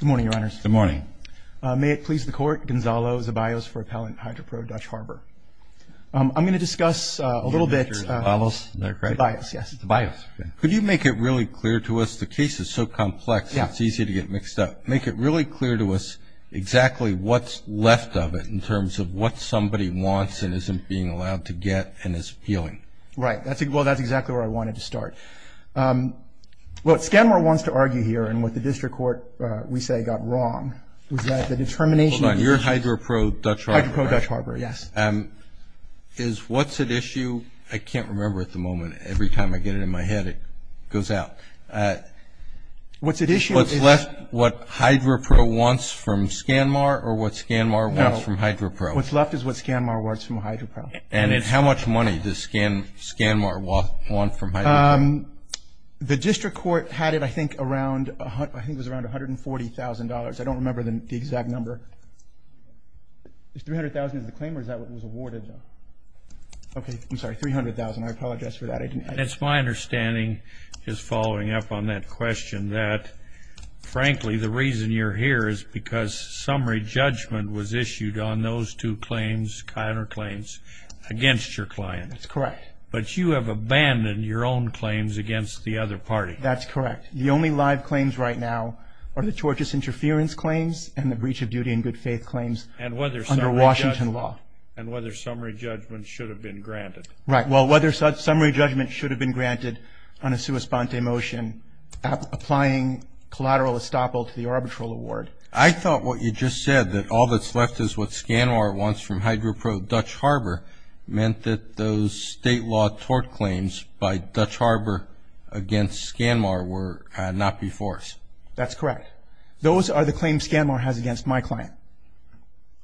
Good morning, Your Honors. Good morning. May it please the Court, Gonzalo Zabaios for Appellant Hydro-Pro Dutch Harbor. I'm going to discuss a little bit... Mr. Zabaios? Zabaios, yes. Zabaios. Could you make it really clear to us, the case is so complex it's easy to get mixed up. Make it really clear to us exactly what's left of it in terms of what somebody wants and isn't being allowed to get and is appealing. Right. Well, that's exactly where I wanted to start. What Scanmar wants to argue here and what the District Court, we say, got wrong was that the determination... Hold on. You're Hydro-Pro Dutch Harbor, right? Hydro-Pro Dutch Harbor, yes. Is what's at issue... I can't remember at the moment. Every time I get it in my head it goes out. What's at issue is... What's left, what Hydro-Pro wants from Scanmar or what Scanmar wants from Hydro-Pro? No. What's left is what Scanmar wants from Hydro-Pro. And how much money does Scanmar want from Hydro-Pro? The District Court had it, I think, around $140,000. I don't remember the exact number. Is $300,000 the claim or is that what was awarded? Okay. I'm sorry. $300,000. I apologize for that. It's my understanding, just following up on that question, that frankly, the reason you're here is because summary judgment was issued on those two claims, Kyner claims, against your client. That's correct. But you have abandoned your own claims against the other party. That's correct. The only live claims right now are the tortious interference claims and the breach of duty and good faith claims under Washington law. And whether summary judgment should have been granted. Right. Well, whether summary judgment should have been granted on a sua sponte motion applying collateral estoppel to the arbitral award. I thought what you just said, that all that's left is what Scanmar wants from Hydro-Pro Dutch Harbor, meant that those state law tort claims by Dutch Harbor against Scanmar were not before us. That's correct. Those are the claims Scanmar has against my client.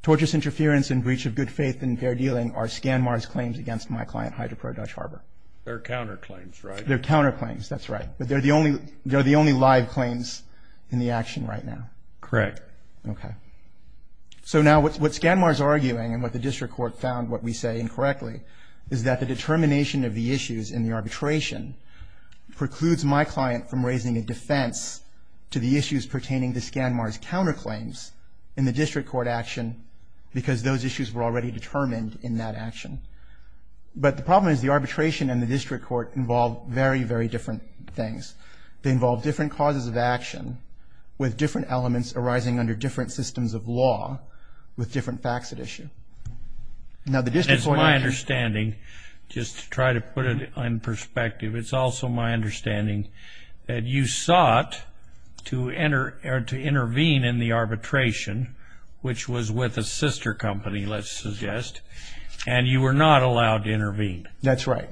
Tortious interference and breach of good faith and fair dealing are Scanmar's claims against my client, Hydro-Pro Dutch Harbor. They're counterclaims, right? They're counterclaims. That's right. But they're the only live claims in the action right now. Correct. Okay. So now what Scanmar is arguing and what the district court found, what we say incorrectly, is that the determination of the issues in the arbitration precludes my client from raising a defense to the issues pertaining to Scanmar's counterclaims in the district court action because those issues were already determined in that action. But the problem is the arbitration and the district court involve very, very different things. They involve different causes of action with different elements arising under different systems of law with different facts at issue. That's my understanding, just to try to put it in perspective. It's also my understanding that you sought to intervene in the arbitration, which was with a sister company, let's suggest, and you were not allowed to intervene. That's right.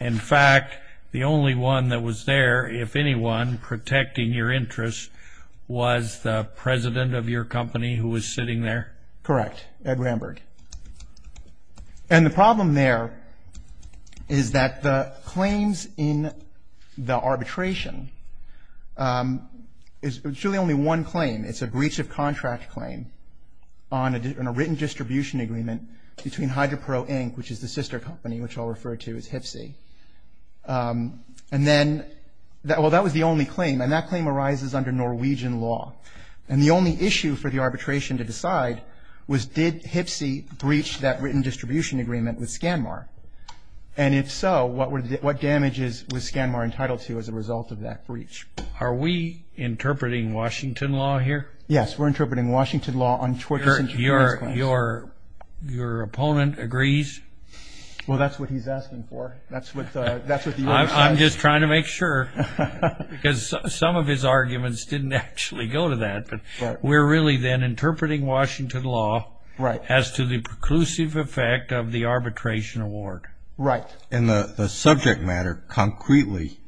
In fact, the only one that was there, if anyone, protecting your interests, was the president of your company who was sitting there? Correct, Ed Ramberg. And the problem there is that the claims in the arbitration is really only one claim. It's a breach of contract claim on a written distribution agreement between HydroPro Inc., which is the sister company, which I'll refer to as HPSI. And then, well, that was the only claim, and that claim arises under Norwegian law. And the only issue for the arbitration to decide was did HPSI breach that written distribution agreement with Scanmar? And if so, what damages was Scanmar entitled to as a result of that breach? Are we interpreting Washington law here? Yes, we're interpreting Washington law on tortious insurance claims. Your opponent agrees? Well, that's what he's asking for. That's what the U.S. says. I'm just trying to make sure because some of his arguments didn't actually go to that. But we're really then interpreting Washington law as to the preclusive effect of the arbitration award. Right. And the subject matter concretely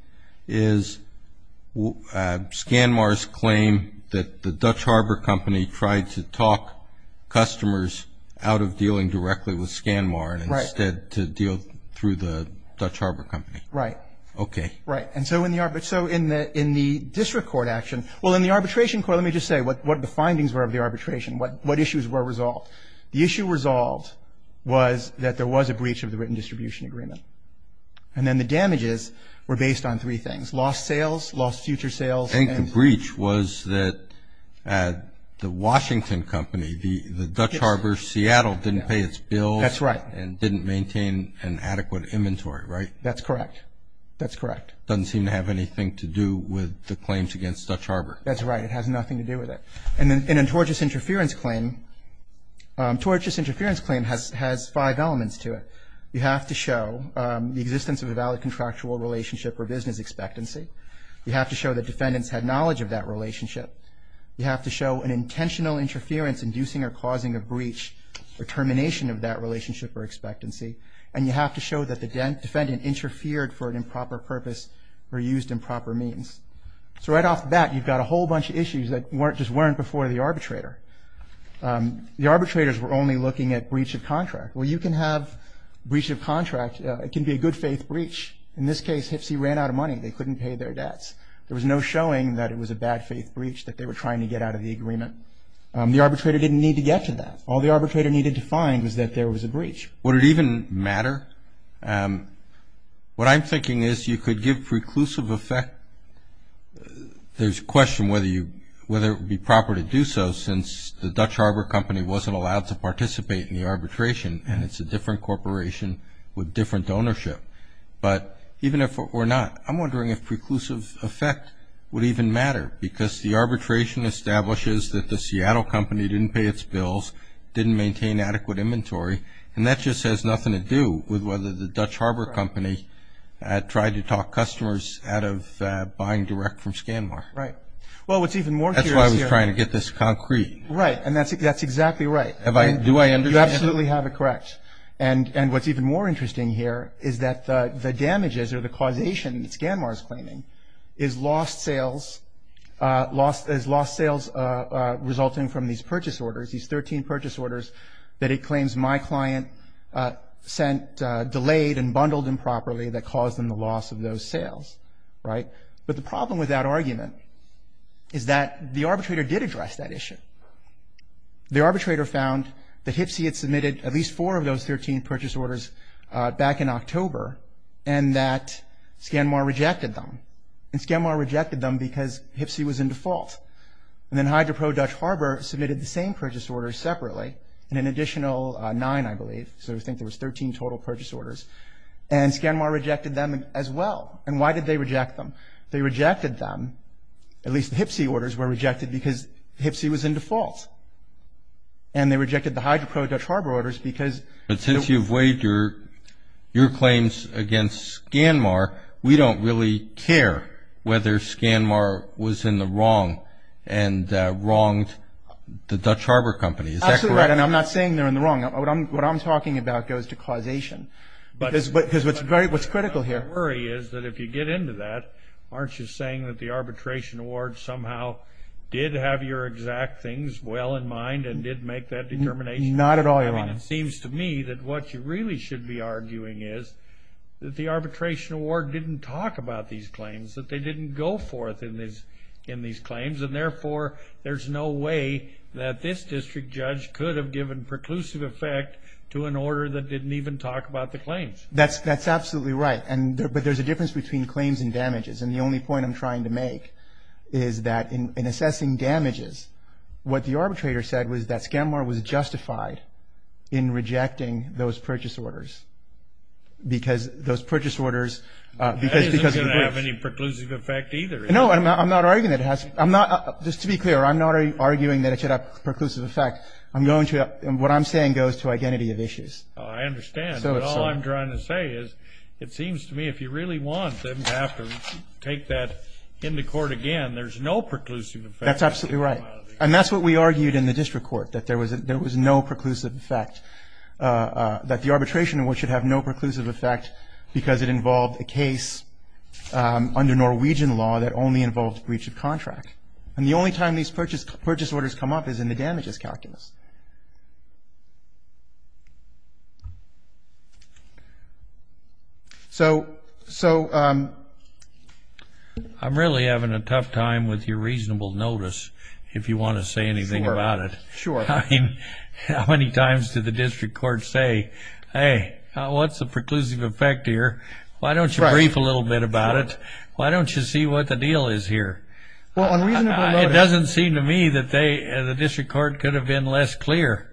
is Scanmar's claim that the Dutch Harbor Company tried to talk customers out of dealing directly with Scanmar and instead to deal through the Dutch Harbor Company. Right. Okay. Right. And so in the district court action, well, in the arbitration court, let me just say what the findings were of the arbitration, what issues were resolved. The issue resolved was that there was a breach of the written distribution agreement. And then the damages were based on three things, lost sales, lost future sales. I think the breach was that the Washington Company, the Dutch Harbor Seattle didn't pay its bills. That's right. And didn't maintain an adequate inventory, right? That's correct. That's correct. Doesn't seem to have anything to do with the claims against Dutch Harbor. That's right. It has nothing to do with it. And then in a tortious interference claim, tortious interference claim has five elements to it. You have to show the existence of a valid contractual relationship or business expectancy. You have to show that defendants had knowledge of that relationship. You have to show an intentional interference inducing or causing a breach or termination of that relationship or expectancy. And you have to show that the defendant interfered for an improper purpose or used improper means. So right off the bat, you've got a whole bunch of issues that just weren't before the arbitrator. The arbitrators were only looking at breach of contract. Well, you can have breach of contract. It can be a good faith breach. In this case, HPSE ran out of money. They couldn't pay their debts. There was no showing that it was a bad faith breach that they were trying to get out of the agreement. The arbitrator didn't need to get to that. All the arbitrator needed to find was that there was a breach. Would it even matter? What I'm thinking is you could give preclusive effect. There's a question whether it would be proper to do so since the Dutch Harbor Company wasn't allowed to participate in the arbitration and it's a different corporation with different ownership. But even if it were not, I'm wondering if preclusive effect would even matter because the arbitration establishes that the Seattle Company didn't pay its bills, didn't maintain adequate inventory, and that just has nothing to do with whether the Dutch Harbor Company tried to talk customers out of buying direct from ScanMar. Right. Well, what's even more curious here. That's why I was trying to get this concrete. Right. And that's exactly right. Do I understand that? You absolutely have it correct. And what's even more interesting here is that the damages or the causation that ScanMar is claiming is lost sales resulting from these purchase orders, that it claims my client sent delayed and bundled improperly that caused them the loss of those sales. Right. But the problem with that argument is that the arbitrator did address that issue. The arbitrator found that HPSE had submitted at least four of those 13 purchase orders back in October and that ScanMar rejected them. And ScanMar rejected them because HPSE was in default. And then HydroPro Dutch Harbor submitted the same purchase order separately and an additional nine, I believe. So I think there was 13 total purchase orders. And ScanMar rejected them as well. And why did they reject them? They rejected them, at least the HPSE orders were rejected because HPSE was in default. And they rejected the HydroPro Dutch Harbor orders because they were in default. But since you've weighed your claims against ScanMar, we don't really care whether ScanMar was in the wrong and wronged the Dutch Harbor Company. Is that correct? Absolutely right. And I'm not saying they're in the wrong. What I'm talking about goes to causation. Because what's critical here. My worry is that if you get into that, aren't you saying that the arbitration award somehow did have your exact things well in mind and did make that determination? Not at all, Your Honor. I mean, it seems to me that what you really should be arguing is that the arbitration award didn't talk about these claims, that they didn't go forth in these claims. And therefore, there's no way that this district judge could have given preclusive effect to an order that didn't even talk about the claims. That's absolutely right. But there's a difference between claims and damages. And the only point I'm trying to make is that in assessing damages, what the arbitrator said was that ScanMar was justified in rejecting those purchase orders because those purchase orders because of the breach. That isn't going to have any preclusive effect either, is it? No, I'm not arguing that it has. Just to be clear, I'm not arguing that it should have preclusive effect. What I'm saying goes to identity of issues. I understand. But all I'm trying to say is it seems to me if you really want them to have to take that into court again, there's no preclusive effect. That's absolutely right. And that's what we argued in the district court, that there was no preclusive effect, that the arbitration award should have no preclusive effect because it involved a case under Norwegian law that only involved breach of contract. And the only time these purchase orders come up is in the damages calculus. So... I'm really having a tough time with your reasonable notice, if you want to say anything about it. Sure. I mean, how many times did the district court say, hey, what's the preclusive effect here? Why don't you brief a little bit about it? Why don't you see what the deal is here? Well, on reasonable notice... It doesn't seem to me that the district court could have been less clear.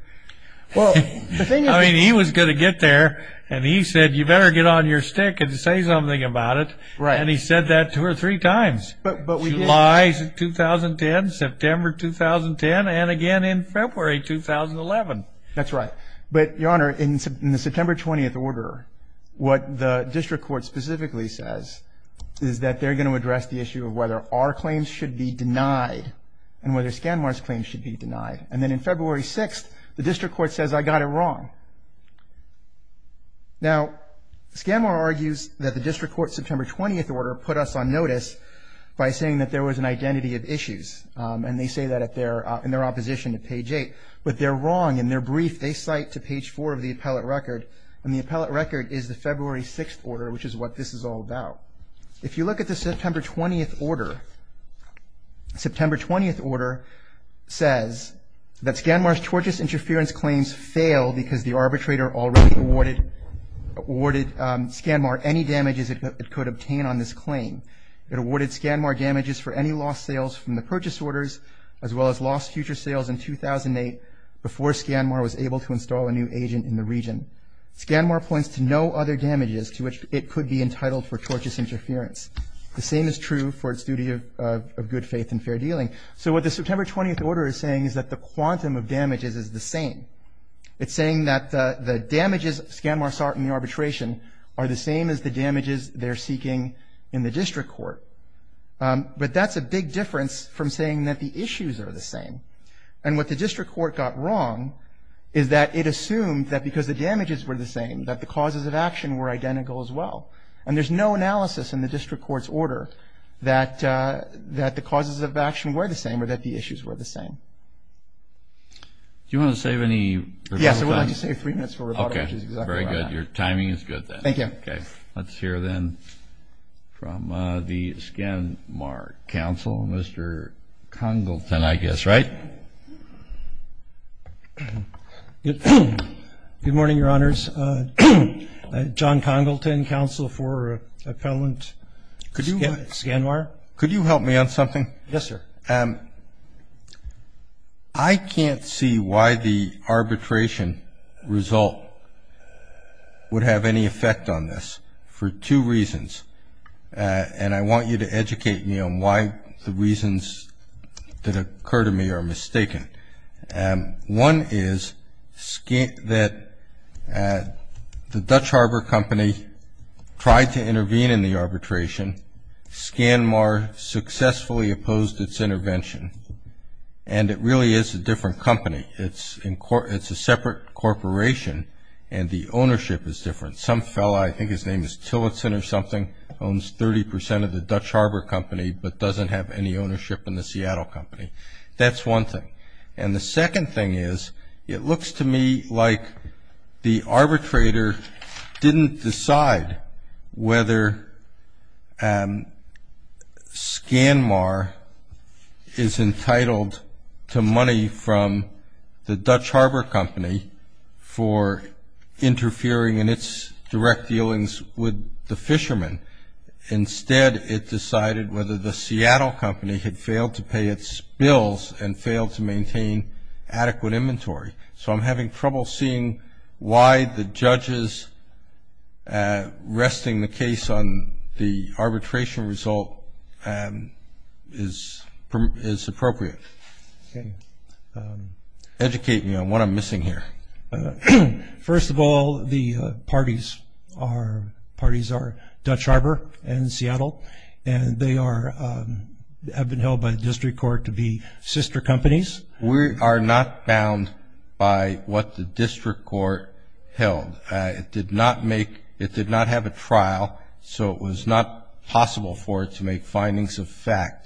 I mean, he was going to get there, and he said, you better get on your stick and say something about it. And he said that two or three times. July 2010, September 2010, and again in February 2011. That's right. But, Your Honor, in the September 20th order, what the district court specifically says is that they're going to address the issue of whether our claims should be denied and whether Scanmar's claims should be denied. And then in February 6th, the district court says, I got it wrong. Now, Scanmar argues that the district court's September 20th order put us on notice by saying that there was an identity of issues, and they say that in their opposition to page 8. But they're wrong in their brief. They cite to page 4 of the appellate record, and the appellate record is the February 6th order, which is what this is all about. If you look at the September 20th order, the September 20th order says that Scanmar's tortious interference claims failed because the arbitrator already awarded Scanmar any damages it could obtain on this claim. It awarded Scanmar damages for any lost sales from the purchase orders, as well as lost future sales in 2008 before Scanmar was able to install a new agent in the region. Scanmar points to no other damages to which it could be entitled for tortious interference. The same is true for its duty of good faith and fair dealing. So what the September 20th order is saying is that the quantum of damages is the same. It's saying that the damages Scanmar sought in the arbitration are the same as the damages they're seeking in the district court. But that's a big difference from saying that the issues are the same. And what the district court got wrong is that it assumed that because the damages were the same, that the causes of action were identical as well. And there's no analysis in the district court's order that the causes of action were the same or that the issues were the same. Do you want to save any? Yes, I would like to save three minutes for rebuttal. Okay, very good. Your timing is good then. Thank you. Okay, let's hear then from the Scanmar counsel, Mr. Congleton, I guess, right? Good morning, Your Honors. John Congleton, counsel for Appellant Scanmar. Could you help me on something? Yes, sir. I can't see why the arbitration result would have any effect on this for two reasons, and I want you to educate me on why the reasons that occur to me are mistaken. One is that the Dutch Harbor Company tried to intervene in the arbitration. Scanmar successfully opposed its intervention, and it really is a different company. It's a separate corporation, and the ownership is different. Some fellow, I think his name is Tillotson or something, owns 30 percent of the Dutch Harbor Company but doesn't have any ownership in the Seattle Company. That's one thing. And the second thing is it looks to me like the arbitrator didn't decide whether Scanmar is entitled to money from the Dutch Harbor Company for interfering in its direct dealings with the fishermen. Instead, it decided whether the Seattle Company had failed to pay its bills and failed to maintain adequate inventory. So I'm having trouble seeing why the judges resting the case on the arbitration result is appropriate. Educate me on what I'm missing here. First of all, the parties are Dutch Harbor and Seattle, and they have been held by the district court to be sister companies. We are not bound by what the district court held. It did not have a trial, so it was not possible for it to make findings of fact.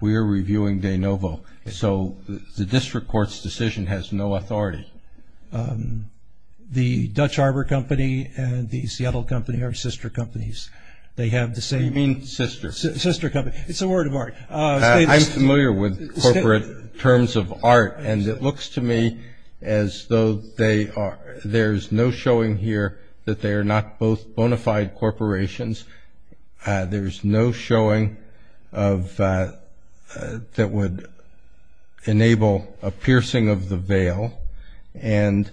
We are reviewing de novo. So the district court's decision has no authority. The Dutch Harbor Company and the Seattle Company are sister companies. They have the same- You mean sister. Sister company. It's a word of art. I'm familiar with corporate terms of art, and it looks to me as though there's no showing here that they are not both bona fide corporations. There's no showing that would enable a piercing of the veil, and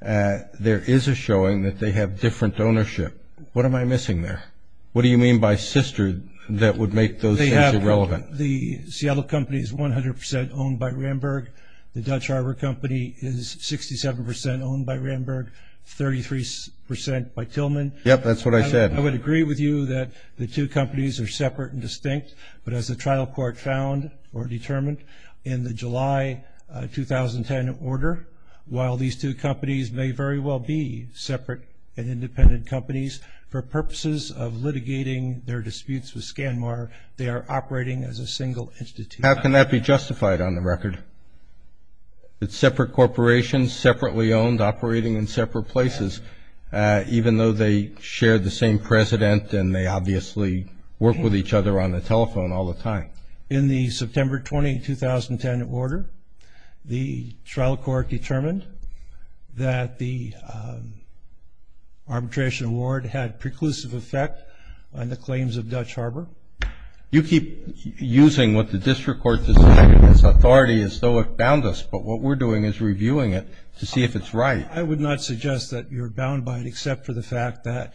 there is a showing that they have different ownership. What am I missing there? What do you mean by sister that would make those things irrelevant? The Seattle Company is 100% owned by Ramberg. The Dutch Harbor Company is 67% owned by Ramberg, 33% by Tillman. Yep, that's what I said. I would agree with you that the two companies are separate and distinct, but as the trial court found or determined in the July 2010 order, while these two companies may very well be separate and independent companies, for purposes of litigating their disputes with SCANMAR, they are operating as a single institution. How can that be justified on the record, that separate corporations, separately owned, operating in separate places, even though they share the same president and they obviously work with each other on the telephone all the time? In the September 20, 2010 order, the trial court determined that the arbitration award had preclusive effect on the claims of Dutch Harbor. You keep using what the district court decided as authority as though it bound us, but what we're doing is reviewing it to see if it's right. I would not suggest that you're bound by it except for the fact that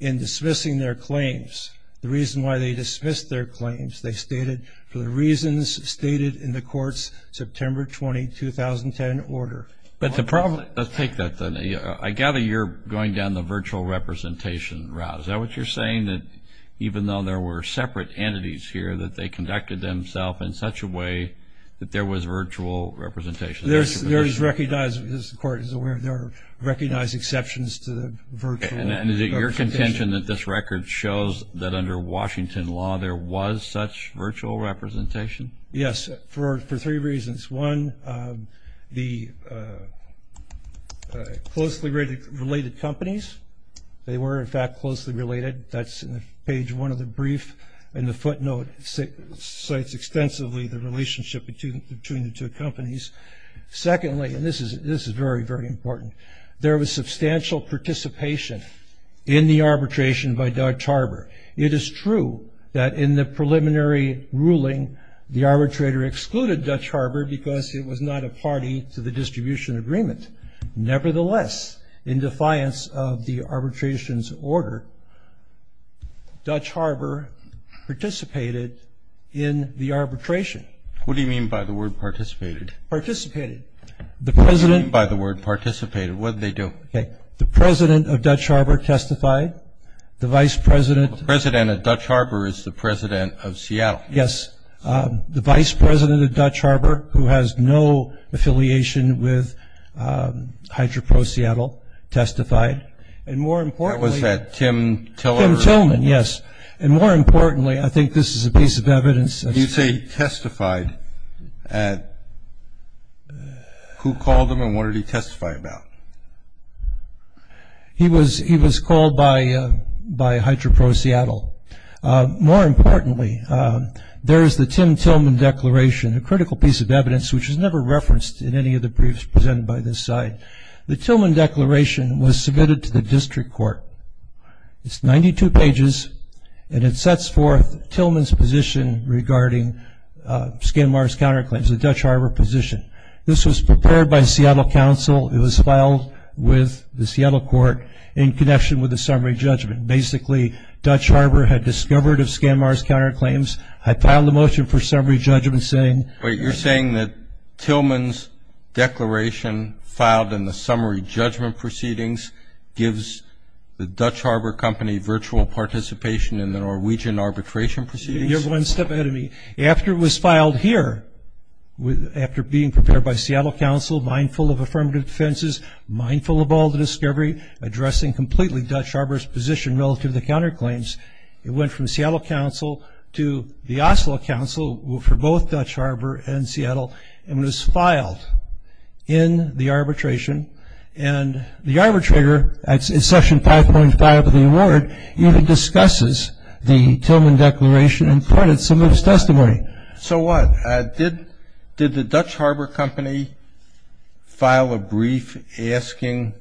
in dismissing their claims, the reason why they dismissed their claims, they stated, for the reasons stated in the court's September 20, 2010 order. But the problem, let's take that then. I gather you're going down the virtual representation route. Is that what you're saying, that even though there were separate entities here, that they conducted themselves in such a way that there was virtual representation? There is recognized, as the court is aware, there are recognized exceptions to the virtual representation. And is it your contention that this record shows that under Washington law, there was such virtual representation? Yes, for three reasons. One, the closely related companies, they were, in fact, closely related. That's in page one of the brief. And the footnote cites extensively the relationship between the two companies. Secondly, and this is very, very important, there was substantial participation in the arbitration by Dutch Harbor. It is true that in the preliminary ruling, the arbitrator excluded Dutch Harbor because it was not a party to the distribution agreement. Nevertheless, in defiance of the arbitration's order, Dutch Harbor participated in the arbitration. What do you mean by the word participated? Participated. What do you mean by the word participated? What did they do? Okay. The president of Dutch Harbor testified. The vice president. The president of Dutch Harbor is the president of Seattle. Yes. The vice president of Dutch Harbor, who has no affiliation with HydroProSeattle, testified. And more importantly. Was that Tim Tillerman? Tim Tillerman, yes. And more importantly, I think this is a piece of evidence. You say testified. Who called him and what did he testify about? He was called by HydroProSeattle. More importantly, there is the Tim Tillerman Declaration, a critical piece of evidence, which is never referenced in any of the briefs presented by this side. The Tillerman Declaration was submitted to the district court. It's 92 pages and it sets forth Tillerman's position regarding Skidmore's counterclaims, the Dutch Harbor position. This was prepared by Seattle Council. It was filed with the Seattle court in connection with the summary judgment. Basically, Dutch Harbor had discovered of Skidmore's counterclaims. I filed a motion for summary judgment saying. Wait. You're saying that Tillerman's declaration filed in the summary judgment proceedings gives the Dutch Harbor Company virtual participation in the Norwegian arbitration proceedings? You're going to step ahead of me. After it was filed here, after being prepared by Seattle Council, mindful of affirmative defenses, mindful of all the discovery, addressing completely Dutch Harbor's position relative to the counterclaims, it went from Seattle Council to the Oslo Council for both Dutch Harbor and Seattle, and was filed in the arbitration. And the arbitrator, in section 5.5 of the award, even discusses the Tillerman Declaration and credits some of his testimony. So what? Did the Dutch Harbor Company file a brief asking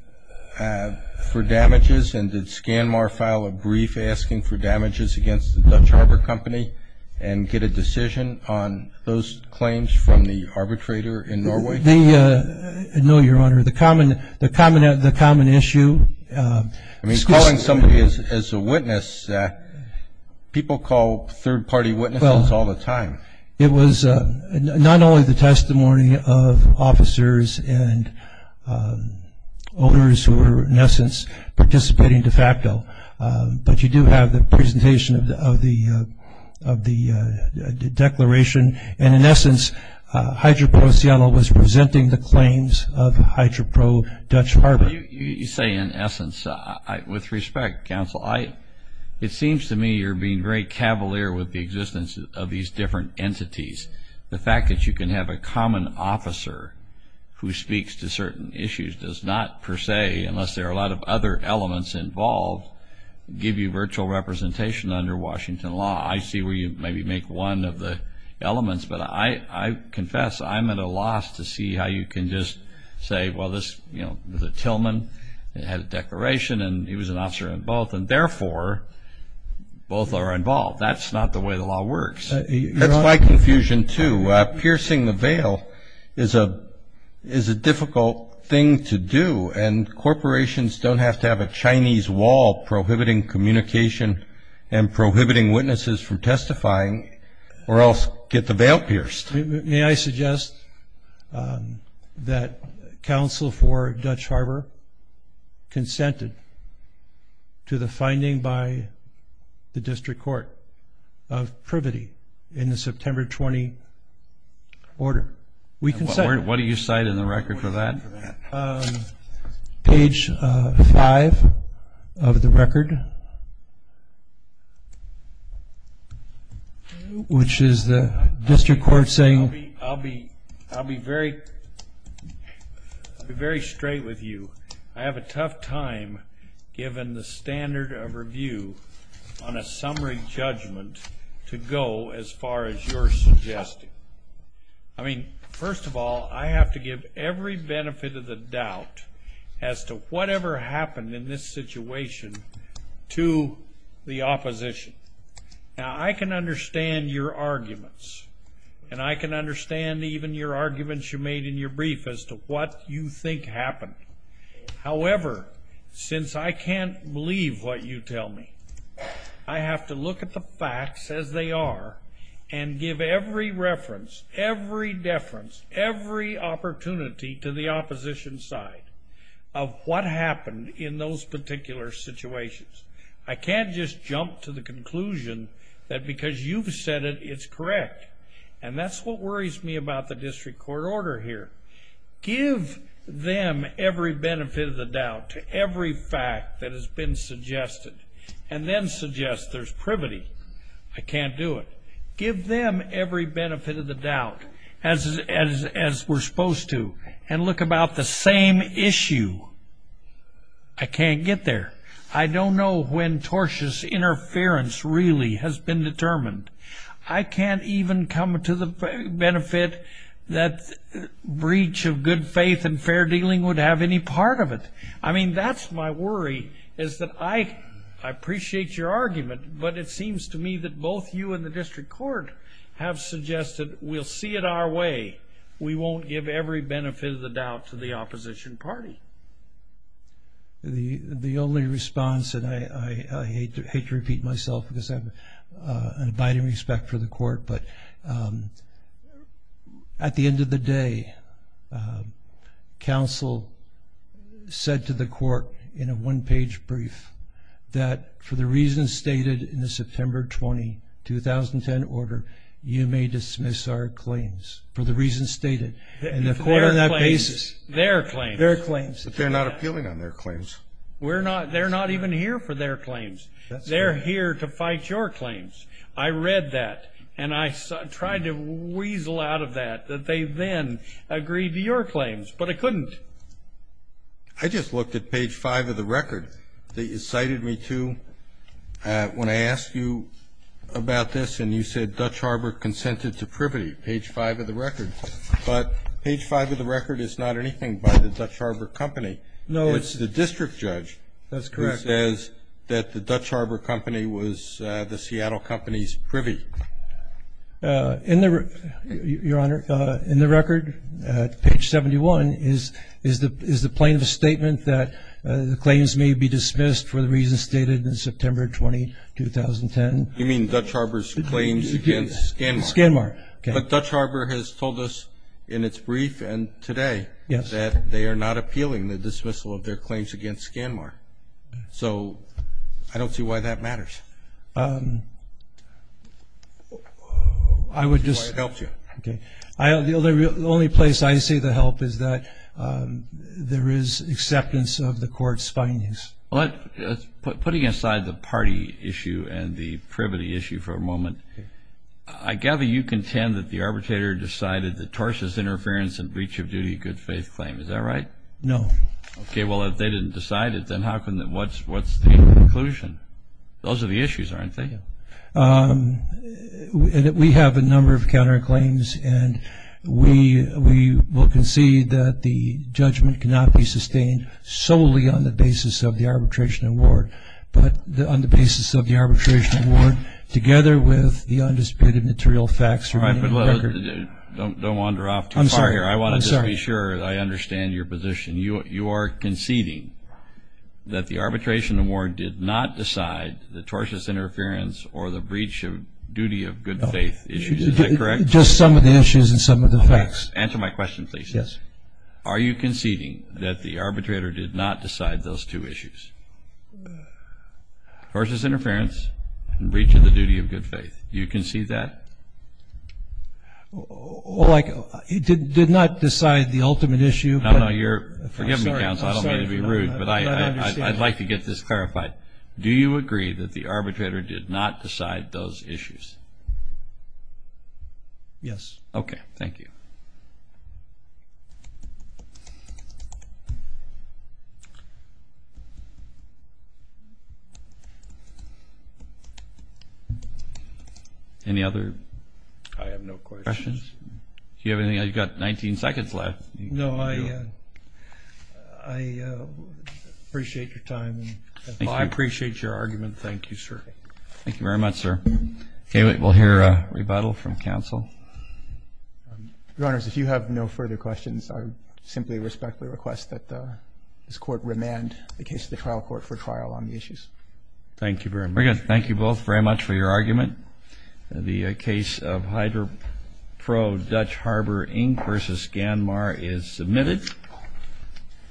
for damages, and did ScanMar file a brief asking for damages against the Dutch Harbor Company and get a decision on those claims from the arbitrator in Norway? No, Your Honor. The common issue. I mean, calling somebody as a witness, people call third-party witnesses all the time. It was not only the testimony of officers and owners who were, in essence, participating de facto, but you do have the presentation of the declaration, and in essence HydroPro Seattle was presenting the claims of HydroPro Dutch Harbor. You say in essence. With respect, counsel, it seems to me you're being very cavalier with the existence of these different entities. The fact that you can have a common officer who speaks to certain issues does not per se, unless there are a lot of other elements involved, give you virtual representation under Washington law. I see where you maybe make one of the elements, but I confess I'm at a loss to see how you can just say, well, this, you know, the Tillerman had a declaration and he was an officer in both, and therefore both are involved. That's not the way the law works. That's my confusion, too. Piercing the veil is a difficult thing to do, and corporations don't have to have a Chinese wall prohibiting communication and prohibiting witnesses from testifying or else get the veil pierced. May I suggest that counsel for Dutch Harbor consented to the finding by the district court of privity in the September 20 order. We consent. What do you cite in the record for that? Page five of the record, which is the district court saying. I'll be very straight with you. I have a tough time given the standard of review on a summary judgment to go as far as you're suggesting. I mean, first of all, I have to give every benefit of the doubt as to whatever happened in this situation to the opposition. Now, I can understand your arguments, and I can understand even your arguments you made in your brief as to what you think happened. However, since I can't believe what you tell me, I have to look at the facts as they are and give every reference, every deference, every opportunity to the opposition side of what happened in those particular situations. I can't just jump to the conclusion that because you've said it, it's correct, and that's what worries me about the district court order here. Give them every benefit of the doubt to every fact that has been suggested and then suggest there's privity. I can't do it. Give them every benefit of the doubt as we're supposed to and look about the same issue. I can't get there. I don't know when tortious interference really has been determined. I can't even come to the benefit that breach of good faith and fair dealing would have any part of it. I mean, that's my worry is that I appreciate your argument, but it seems to me that both you and the district court have suggested we'll see it our way. We won't give every benefit of the doubt to the opposition party. The only response, and I hate to repeat myself because I have an abiding respect for the court, but at the end of the day, counsel said to the court in a one-page brief that for the reasons stated in the September 20, 2010 order, you may dismiss our claims. For the reasons stated, and the court on that basis. Their claims. Their claims. But they're not appealing on their claims. They're not even here for their claims. They're here to fight your claims. I read that, and I tried to weasel out of that, that they then agreed to your claims, but I couldn't. I just looked at page five of the record that you cited me to when I asked you about this, and you said Dutch Harbor consented to privity, page five of the record. But page five of the record is not anything by the Dutch Harbor Company. No. It's the district judge. That's correct. It says that the Dutch Harbor Company was the Seattle Company's privy. Your Honor, in the record, page 71, is the plaintiff's statement that the claims may be dismissed for the reasons stated in September 20, 2010? You mean Dutch Harbor's claims against ScanMar? ScanMar. But Dutch Harbor has told us in its brief and today that they are not appealing the dismissal of their claims against ScanMar. So I don't see why that matters. I would just ---- I don't see why it helps you. Okay. The only place I see the help is that there is acceptance of the court's findings. Putting aside the party issue and the privity issue for a moment, I gather you contend that the arbitrator decided that Torsh's interference and breach of duty good faith claim. Is that right? No. Okay. Well, if they didn't decide it, then what's the conclusion? Those are the issues, aren't they? Yes. We have a number of counterclaims, and we will concede that the judgment cannot be sustained solely on the basis of the arbitration award, but on the basis of the arbitration award together with the undisputed material facts remaining in the record. All right. Don't wander off too far here. I'm sorry. I'm sorry. Just to be sure that I understand your position, you are conceding that the arbitration award did not decide the Torsh's interference or the breach of duty of good faith issues. Is that correct? Just some of the issues and some of the facts. Answer my question, please. Yes. Are you conceding that the arbitrator did not decide those two issues, Torsh's interference and breach of the duty of good faith? Do you concede that? Well, like it did not decide the ultimate issue. No, no. You're forgiving me, counsel. I don't mean to be rude, but I'd like to get this clarified. Do you agree that the arbitrator did not decide those issues? Yes. Okay. Thank you. Any other questions? I have no questions. Do you have anything? You've got 19 seconds left. No, I appreciate your time. I appreciate your argument. Thank you, sir. Thank you very much, sir. Okay. We'll hear a rebuttal from counsel. Your Honors, if you have no further questions, I simply respectfully request that this court remand the case to the trial court for trial on the issues. Thank you very much. Thank you both very much for your argument. The case of HydroPro Dutch Harbor, Inc. versus Ganmar is submitted.